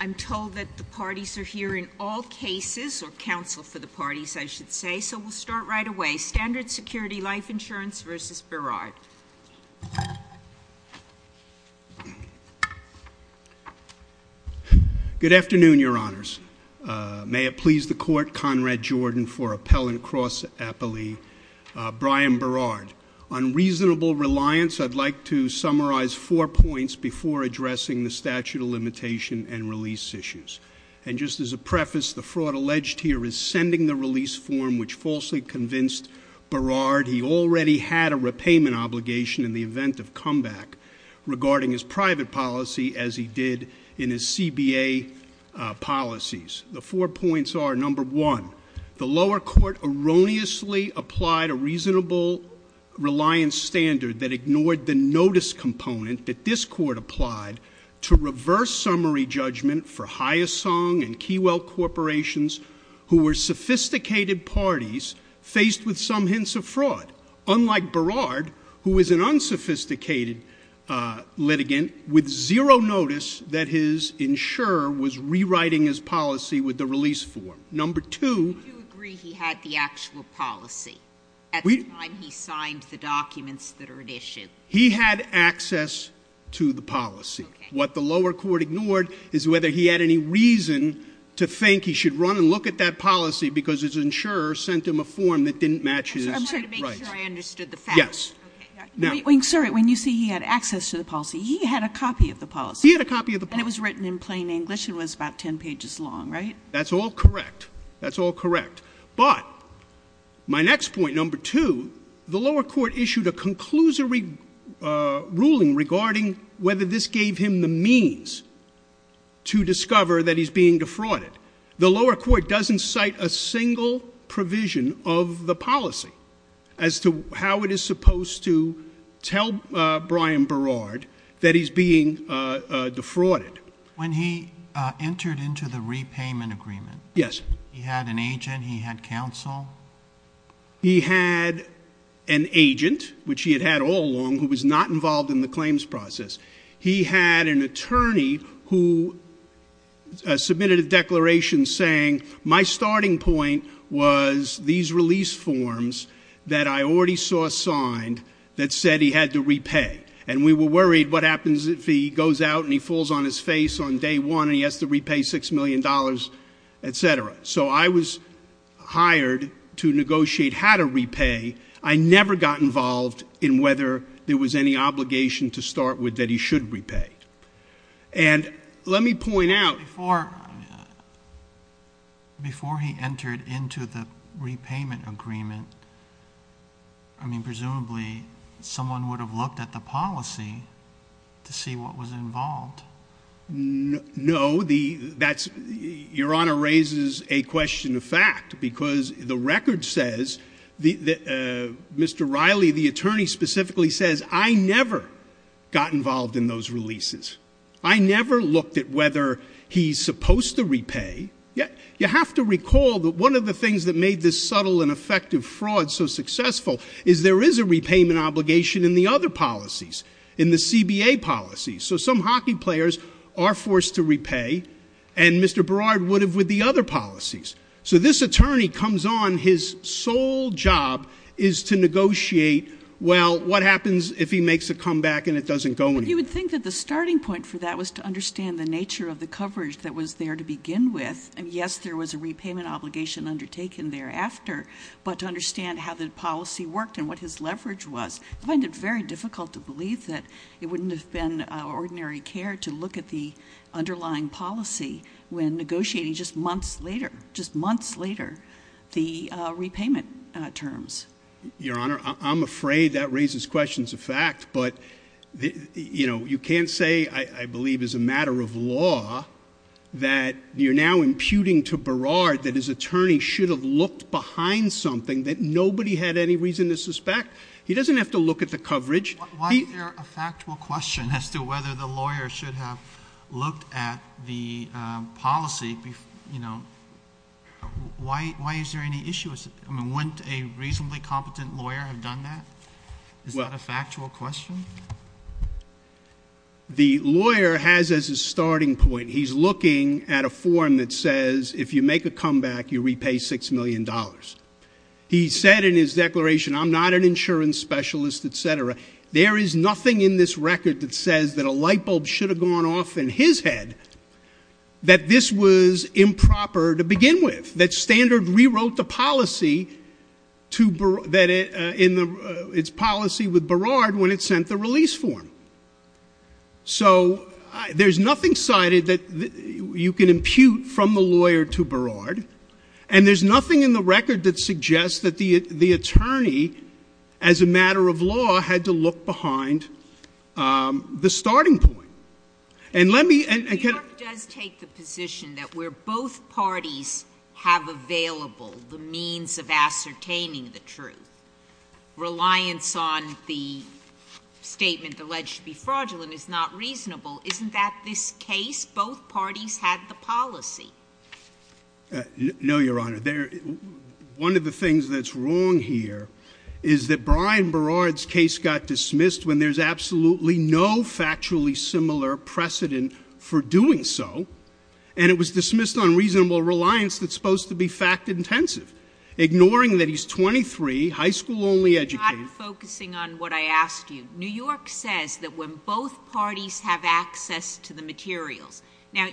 I'm told that the parties are here in all cases, or counsel for the parties, I should say, so we'll start right away. Standard Security Life Insurance v. Berard. Good afternoon, Your Honors. May it please the Court, Conrad Jordan for Appellant Cross Appellee, Brian Berard. On reasonable reliance, I'd like to summarize four points before addressing the statute of limitation and release issues. And just as a preface, the fraud alleged here is sending the release form which falsely convinced Berard he already had a repayment obligation in the event of comeback regarding his private policy as he did in his CBA policies. The four points are, number one, the lower court erroneously applied a reasonable reliance standard that ignored the notice component that this court applied to reverse summary judgment for Hyassong and Keywell corporations who were sophisticated parties faced with some hints of fraud. Unlike Berard, who is an unsophisticated litigant with zero notice that his insurer was rewriting his policy with the release form. Number two- Do you agree he had the actual policy at the time he signed the documents that are at issue? He had access to the policy. What the lower court ignored is whether he had any reason to think he should run and look at that policy because his insurer sent him a form that didn't match his- I'm trying to make sure I understood the fact. Yes. When you say he had access to the policy, he had a copy of the policy. He had a copy of the policy. And it was written in plain English. It was about ten pages long, right? That's all correct. That's all correct. But my next point, number two, the lower court issued a conclusory ruling regarding whether this gave him the means to discover that he's being defrauded. The lower court doesn't cite a single provision of the policy as to how it is supposed to tell Brian Berard that he's being defrauded. When he entered into the repayment agreement- Yes. He had an agent. He had counsel. He had an agent, which he had had all along, who was not involved in the claims process. He had an attorney who submitted a declaration saying, my starting point was these release forms that I already saw signed that said he had to repay. And we were worried what happens if he goes out and he falls on his face on day one and he has to repay $6 million, etc. So I was hired to negotiate how to repay. I never got involved in whether there was any obligation to start with that he should repay. And let me point out- Before he entered into the repayment agreement, I mean, presumably someone would have looked at the policy to see what was involved. No. Your Honor raises a question of fact because the record says, Mr. Riley, the attorney specifically says, I never got involved in those releases. I never looked at whether he's supposed to repay. You have to recall that one of the things that made this subtle and effective fraud so successful is there is a repayment obligation in the other policies, in the CBA policies. So some hockey players are forced to repay, and Mr. Barard would have with the other policies. So this attorney comes on, his sole job is to negotiate, well, what happens if he makes a comeback and it doesn't go anywhere. You would think that the starting point for that was to understand the nature of the coverage that was there to begin with. And yes, there was a repayment obligation undertaken thereafter. But to understand how the policy worked and what his leverage was, I find it very difficult to believe that it wouldn't have been ordinary care to look at the underlying policy when negotiating just months later, just months later, the repayment terms. Your Honor, I'm afraid that raises questions of fact. But, you know, you can't say, I believe as a matter of law, that you're now imputing to Barard that his attorney should have looked behind something that nobody had any reason to suspect. He doesn't have to look at the coverage. Why is there a factual question as to whether the lawyer should have looked at the policy? You know, why is there any issue? I mean, wouldn't a reasonably competent lawyer have done that? Is that a factual question? The lawyer has as a starting point, he's looking at a form that says, if you make a comeback, you repay $6 million. He said in his declaration, I'm not an insurance specialist, et cetera. There is nothing in this record that says that a light bulb should have gone off in his head, that this was improper to begin with. That Standard rewrote the policy with Barard when it sent the release form. So there's nothing cited that you can impute from the lawyer to Barard. And there's nothing in the record that suggests that the attorney, as a matter of law, had to look behind the starting point. And let me— New York does take the position that where both parties have available the means of ascertaining the truth, reliance on the statement alleged to be fraudulent is not reasonable. Isn't that this case? Both parties had the policy. No, Your Honor. One of the things that's wrong here is that Brian Barard's case got dismissed when there's absolutely no factually similar precedent for doing so. And it was dismissed on reasonable reliance that's supposed to be fact-intensive. Ignoring that he's 23, high school-only educated— I'm not focusing on what I asked you. New York says that when both parties have access to the materials— Now,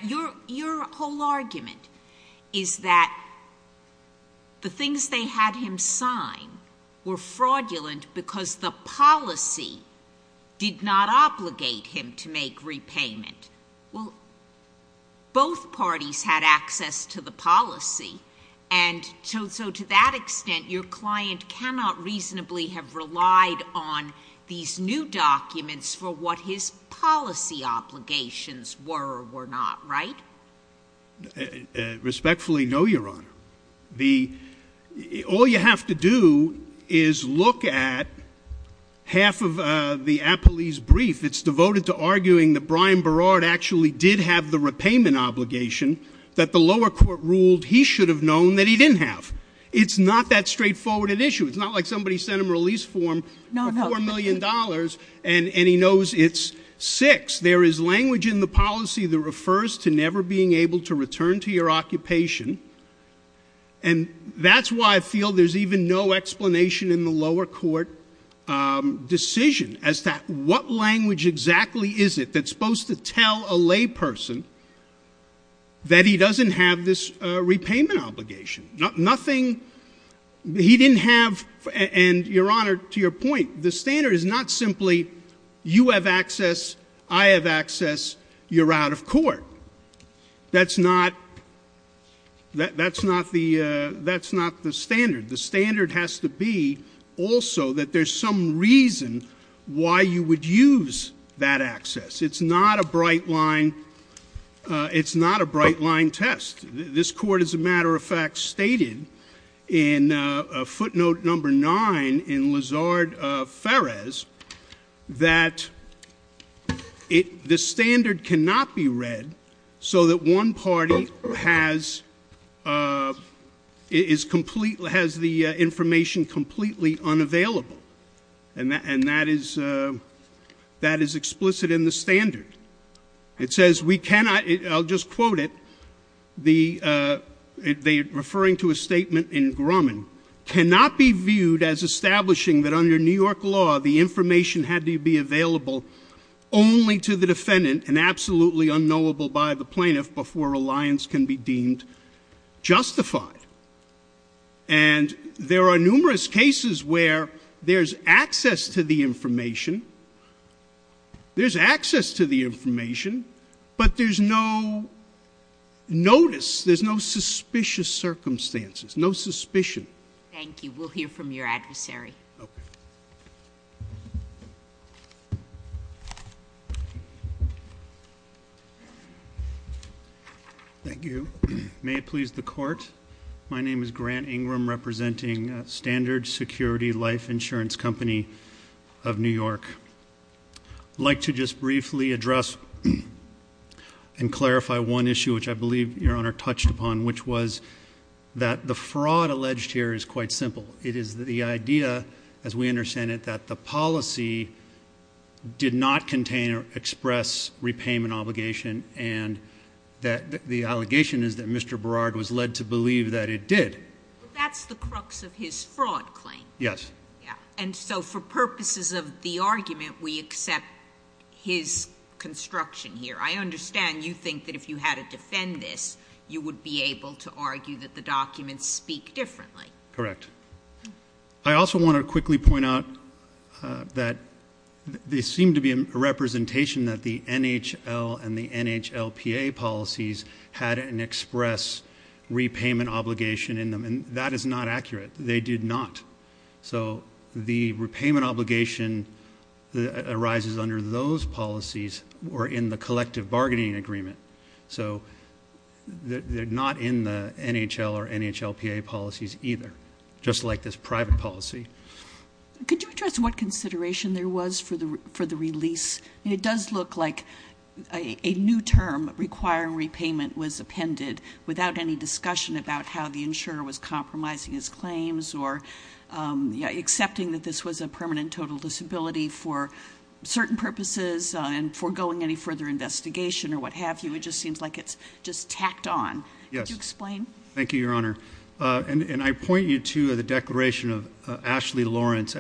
your whole argument is that the things they had him sign were fraudulent because the policy did not obligate him to make repayment. Well, both parties had access to the policy. And so to that extent, your client cannot reasonably have relied on these new documents for what his policy obligations were or were not, right? Respectfully, no, Your Honor. All you have to do is look at half of the appellee's brief. It's devoted to arguing that Brian Barard actually did have the repayment obligation that the lower court ruled he should have known that he didn't have. It's not that straightforward an issue. It's not like somebody sent him a release form for $4 million and he knows it's six. There is language in the policy that refers to never being able to return to your occupation, and that's why I feel there's even no explanation in the lower court decision as to what language exactly is it that's supposed to tell a layperson that he doesn't have this repayment obligation. Nothing—he didn't have—and, Your Honor, to your point, the standard is not simply you have access, I have access, you're out of court. That's not the standard. The standard has to be also that there's some reason why you would use that access. It's not a bright line test. This court, as a matter of fact, stated in footnote number nine in Lazard-Ferez that the standard cannot be read so that one party has the information completely unavailable, and that is explicit in the standard. It says we cannot—I'll just quote it, referring to a statement in Grumman— cannot be viewed as establishing that under New York law the information had to be available only to the defendant and absolutely unknowable by the plaintiff before reliance can be deemed justified. And there are numerous cases where there's access to the information, there's access to the information, but there's no notice, there's no suspicious circumstances, no suspicion. Thank you. We'll hear from your adversary. Okay. Thank you. May it please the court? My name is Grant Ingram, representing Standard Security Life Insurance Company of New York. I'd like to just briefly address and clarify one issue, which I believe Your Honor touched upon, which was that the fraud alleged here is quite simple. It is the idea, as we understand it, that the policy did not contain or express repayment obligation and that the allegation is that Mr. Berard was led to believe that it did. But that's the crux of his fraud claim. Yes. And so for purposes of the argument, we accept his construction here. I understand you think that if you had to defend this, you would be able to argue that the documents speak differently. Correct. I also want to quickly point out that there seemed to be a representation that the NHL and the NHLPA policies had an express repayment obligation in them, and that is not accurate. They did not. So the repayment obligation arises under those policies or in the collective bargaining agreement. So they're not in the NHL or NHLPA policies either, just like this private policy. Could you address what consideration there was for the release? It does look like a new term, requiring repayment, was appended without any discussion about how the insurer was compromising his claims or accepting that this was a permanent total disability for certain purposes and foregoing any further investigation or what have you. It just seems like it's just tacked on. Yes. Could you explain? Thank you, Your Honor. And I point you to the declaration of Ashley Lawrence,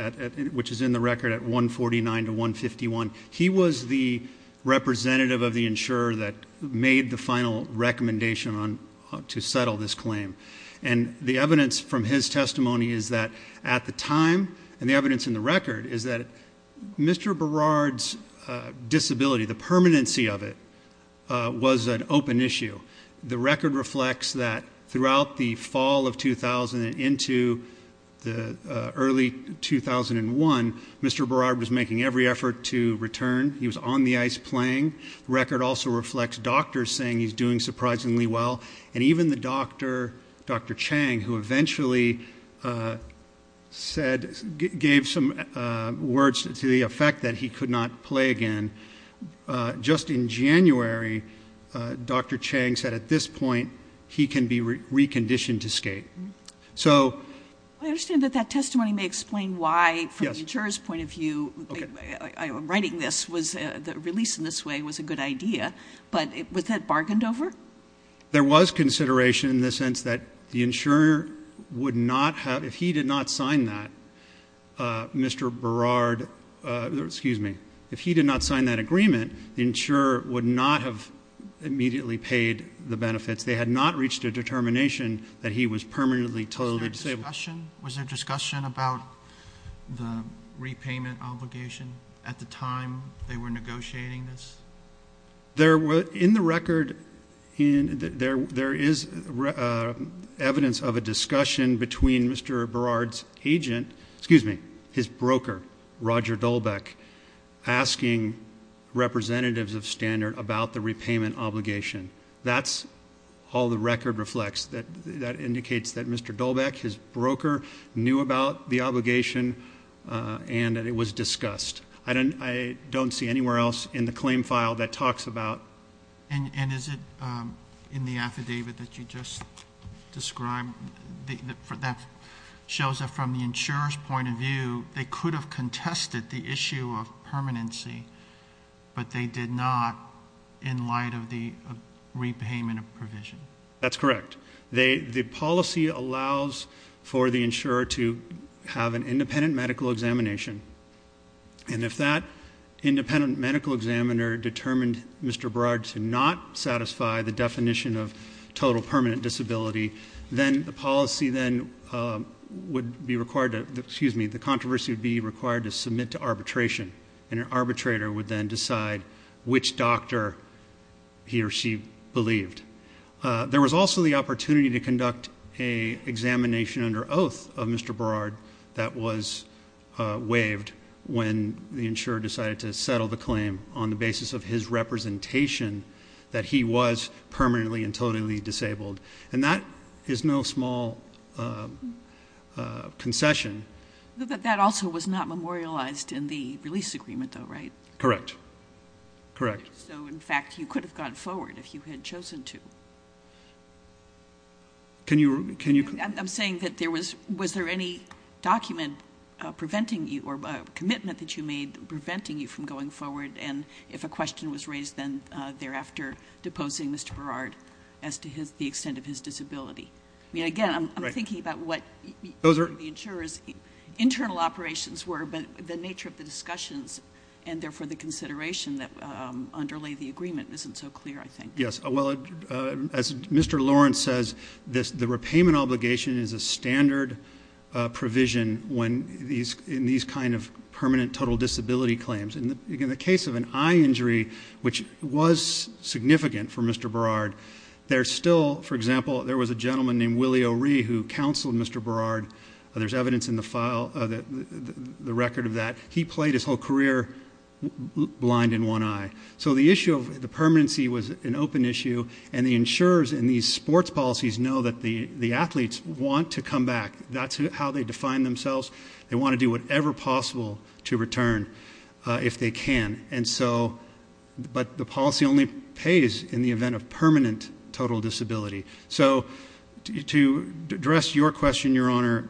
which is in the record at 149 to 151. He was the representative of the insurer that made the final recommendation to settle this claim. And the evidence from his testimony is that at the time, and the evidence in the record is that Mr. Berard's disability, the permanency of it, was an open issue. The record reflects that throughout the fall of 2000 and into the early 2001, Mr. Berard was making every effort to return. He was on the ice playing. The record also reflects doctors saying he's doing surprisingly well. And even the doctor, Dr. Chang, who eventually gave some words to the effect that he could not play again, just in January, Dr. Chang said at this point he can be reconditioned to skate. I understand that that testimony may explain why, from the insurer's point of view, writing this, the release in this way was a good idea, but was that bargained over? There was consideration in the sense that the insurer would not have, if he did not sign that, Mr. Berard, excuse me, if he did not sign that agreement, the insurer would not have immediately paid the benefits. They had not reached a determination that he was permanently totally disabled. Was there discussion about the repayment obligation at the time they were negotiating this? In the record, there is evidence of a discussion between Mr. Berard's agent, excuse me, his broker, Roger Dolbeck, asking representatives of Standard about the repayment obligation. That's all the record reflects. That indicates that Mr. Dolbeck, his broker, knew about the obligation and that it was discussed. I don't see anywhere else in the claim file that talks about- And is it in the affidavit that you just described that shows that from the insurer's point of view, they could have contested the issue of permanency, but they did not in light of the repayment of provision? That's correct. The policy allows for the insurer to have an independent medical examination, and if that independent medical examiner determined Mr. Berard to not satisfy the definition of total permanent disability, then the policy then would be required to-excuse me, the controversy would be required to submit to arbitration, and an arbitrator would then decide which doctor he or she believed. There was also the opportunity to conduct an examination under oath of Mr. Berard that was waived when the insurer decided to settle the claim on the basis of his representation that he was permanently and totally disabled, and that is no small concession. But that also was not memorialized in the release agreement, though, right? Correct. Correct. So, in fact, you could have gone forward if you had chosen to. Can you- I'm saying that there was-was there any document preventing you, or a commitment that you made preventing you from going forward, and if a question was raised then thereafter deposing Mr. Berard as to the extent of his disability? I mean, again, I'm thinking about what the insurer's internal operations were, but the nature of the discussions and, therefore, the consideration that underlay the agreement isn't so clear, I think. Yes. Well, as Mr. Lawrence says, the repayment obligation is a standard provision when these-in these kind of permanent total disability claims. In the case of an eye injury, which was significant for Mr. Berard, there's still-for example, there was a gentleman named Willie O'Ree who counseled Mr. Berard. There's evidence in the file-the record of that. He played his whole career blind in one eye. So the issue of the permanency was an open issue, and the insurers in these sports policies know that the athletes want to come back. That's how they define themselves. They want to do whatever possible to return if they can. And so-but the policy only pays in the event of permanent total disability. So to address your question, Your Honor,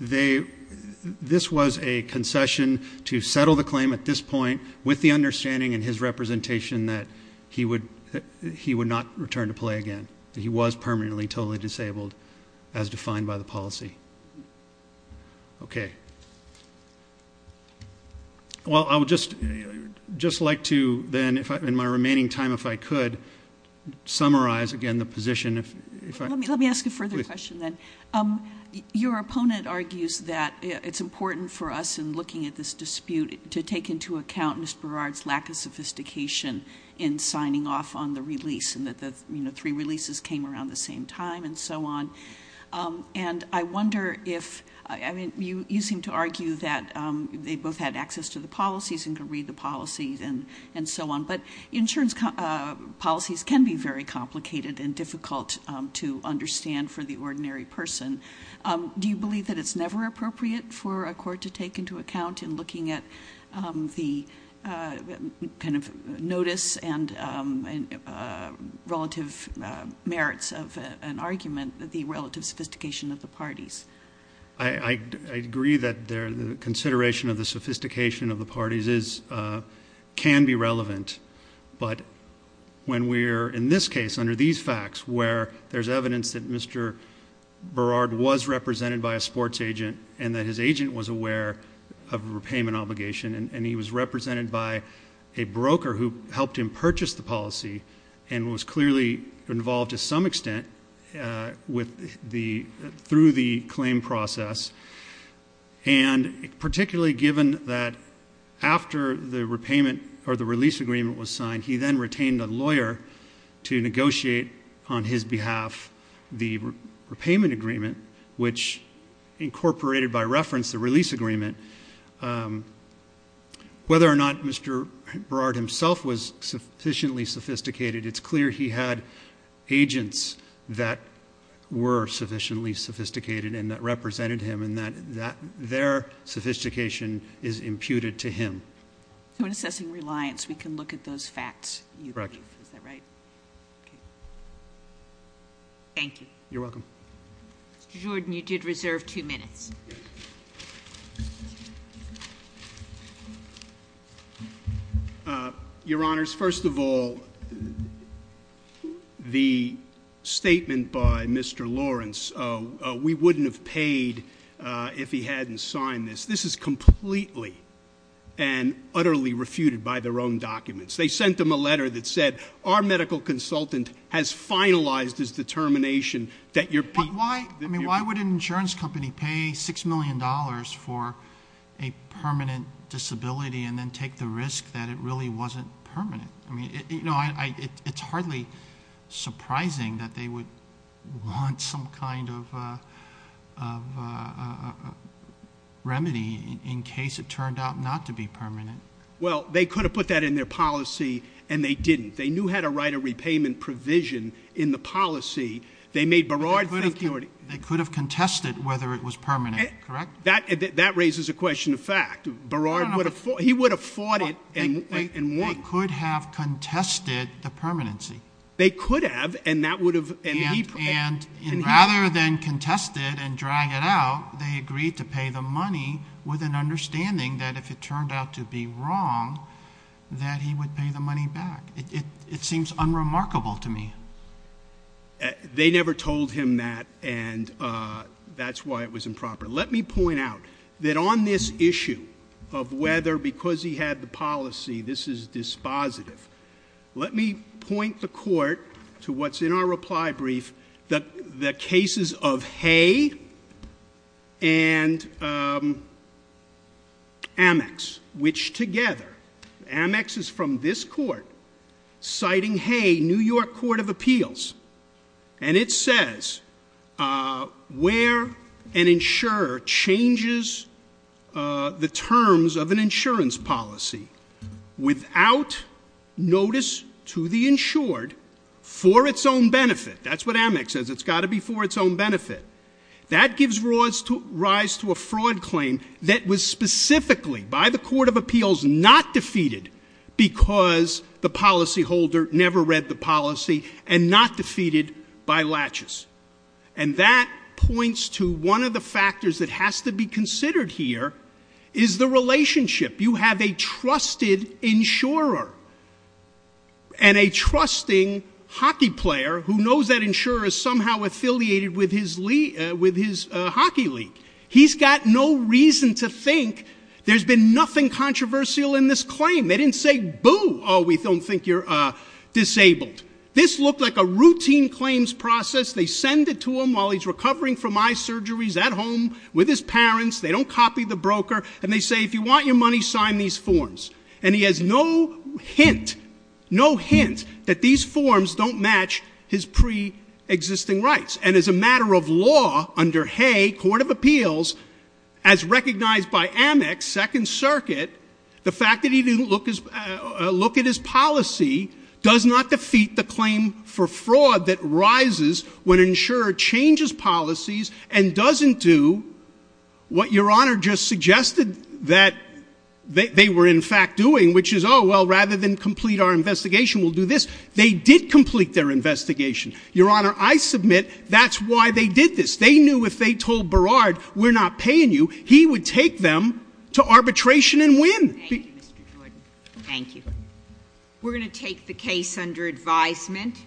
they-this was a concession to settle the claim at this point with the understanding in his representation that he would not return to play again, that he was permanently totally disabled as defined by the policy. Okay. Well, I would just like to then, in my remaining time if I could, summarize again the position. Let me ask a further question then. Your opponent argues that it's important for us in looking at this dispute to take into account Mr. Berard's lack of sophistication in signing off on the release and that the three releases came around the same time and so on. And I wonder if-I mean, you seem to argue that they both had access to the policies and could read the policies and so on, but insurance policies can be very complicated and difficult to understand for the ordinary person. Do you believe that it's never appropriate for a court to take into account in looking at the kind of notice and relative merits of an argument the relative sophistication of the parties? I agree that the consideration of the sophistication of the parties is-can be relevant. But when we're in this case, under these facts, where there's evidence that Mr. Berard was represented by a sports agent and that his agent was aware of a repayment obligation and he was represented by a broker who helped him purchase the policy and was clearly involved to some extent with the-through the claim process, and particularly given that after the repayment or the release agreement was signed, he then retained a lawyer to negotiate on his behalf the repayment agreement, which incorporated by reference the release agreement. Whether or not Mr. Berard himself was sufficiently sophisticated, it's clear he had agents that were sufficiently sophisticated and that represented him and that their sophistication is imputed to him. So in assessing reliance, we can look at those facts, you believe? Correct. Is that right? Okay. Thank you. You're welcome. Mr. Jordan, you did reserve two minutes. Yes. Your Honors, first of all, the statement by Mr. Lawrence, we wouldn't have paid if he hadn't signed this. This is completely and utterly refuted by their own documents. They sent him a letter that said, our medical consultant has finalized his determination that your- I mean, why would an insurance company pay $6 million for a permanent disability and then take the risk that it really wasn't permanent? I mean, it's hardly surprising that they would want some kind of remedy in case it turned out not to be permanent. Well, they could have put that in their policy, and they didn't. They knew how to write a repayment provision in the policy. They could have contested whether it was permanent, correct? That raises a question of fact. He would have fought it and won. They could have contested the permanency. They could have, and that would have- And rather than contest it and drag it out, they agreed to pay the money with an understanding that if it turned out to be wrong, that he would pay the money back. It seems unremarkable to me. They never told him that, and that's why it was improper. Let me point out that on this issue of whether because he had the policy, this is dispositive, let me point the court to what's in our reply brief, the cases of Hay and Amex, which together, Amex is from this court, citing Hay, New York Court of Appeals, and it says where an insurer changes the terms of an insurance policy without notice to the insured for its own benefit. That's what Amex says. It's got to be for its own benefit. That gives rise to a fraud claim that was specifically, by the Court of Appeals, not defeated because the policyholder never read the policy and not defeated by latches. And that points to one of the factors that has to be considered here is the relationship. You have a trusted insurer and a trusting hockey player who knows that insurer is somehow affiliated with his hockey league. He's got no reason to think there's been nothing controversial in this claim. They didn't say, boo, oh, we don't think you're disabled. This looked like a routine claims process. They send it to him while he's recovering from eye surgeries at home with his parents. They don't copy the broker, and they say, if you want your money, sign these forms. And he has no hint, no hint, that these forms don't match his preexisting rights. And as a matter of law, under Hay, Court of Appeals, as recognized by Amex, Second Circuit, the fact that he didn't look at his policy does not defeat the claim for fraud that rises when an insurer changes policies and doesn't do what Your Honor just suggested, that they were in fact doing, which is, oh, well, rather than complete our investigation, we'll do this. They did complete their investigation. Your Honor, I submit that's why they did this. They knew if they told Berard, we're not paying you, he would take them to arbitration and win. Thank you, Mr. Jordan. Thank you. We're going to take the case under advisement.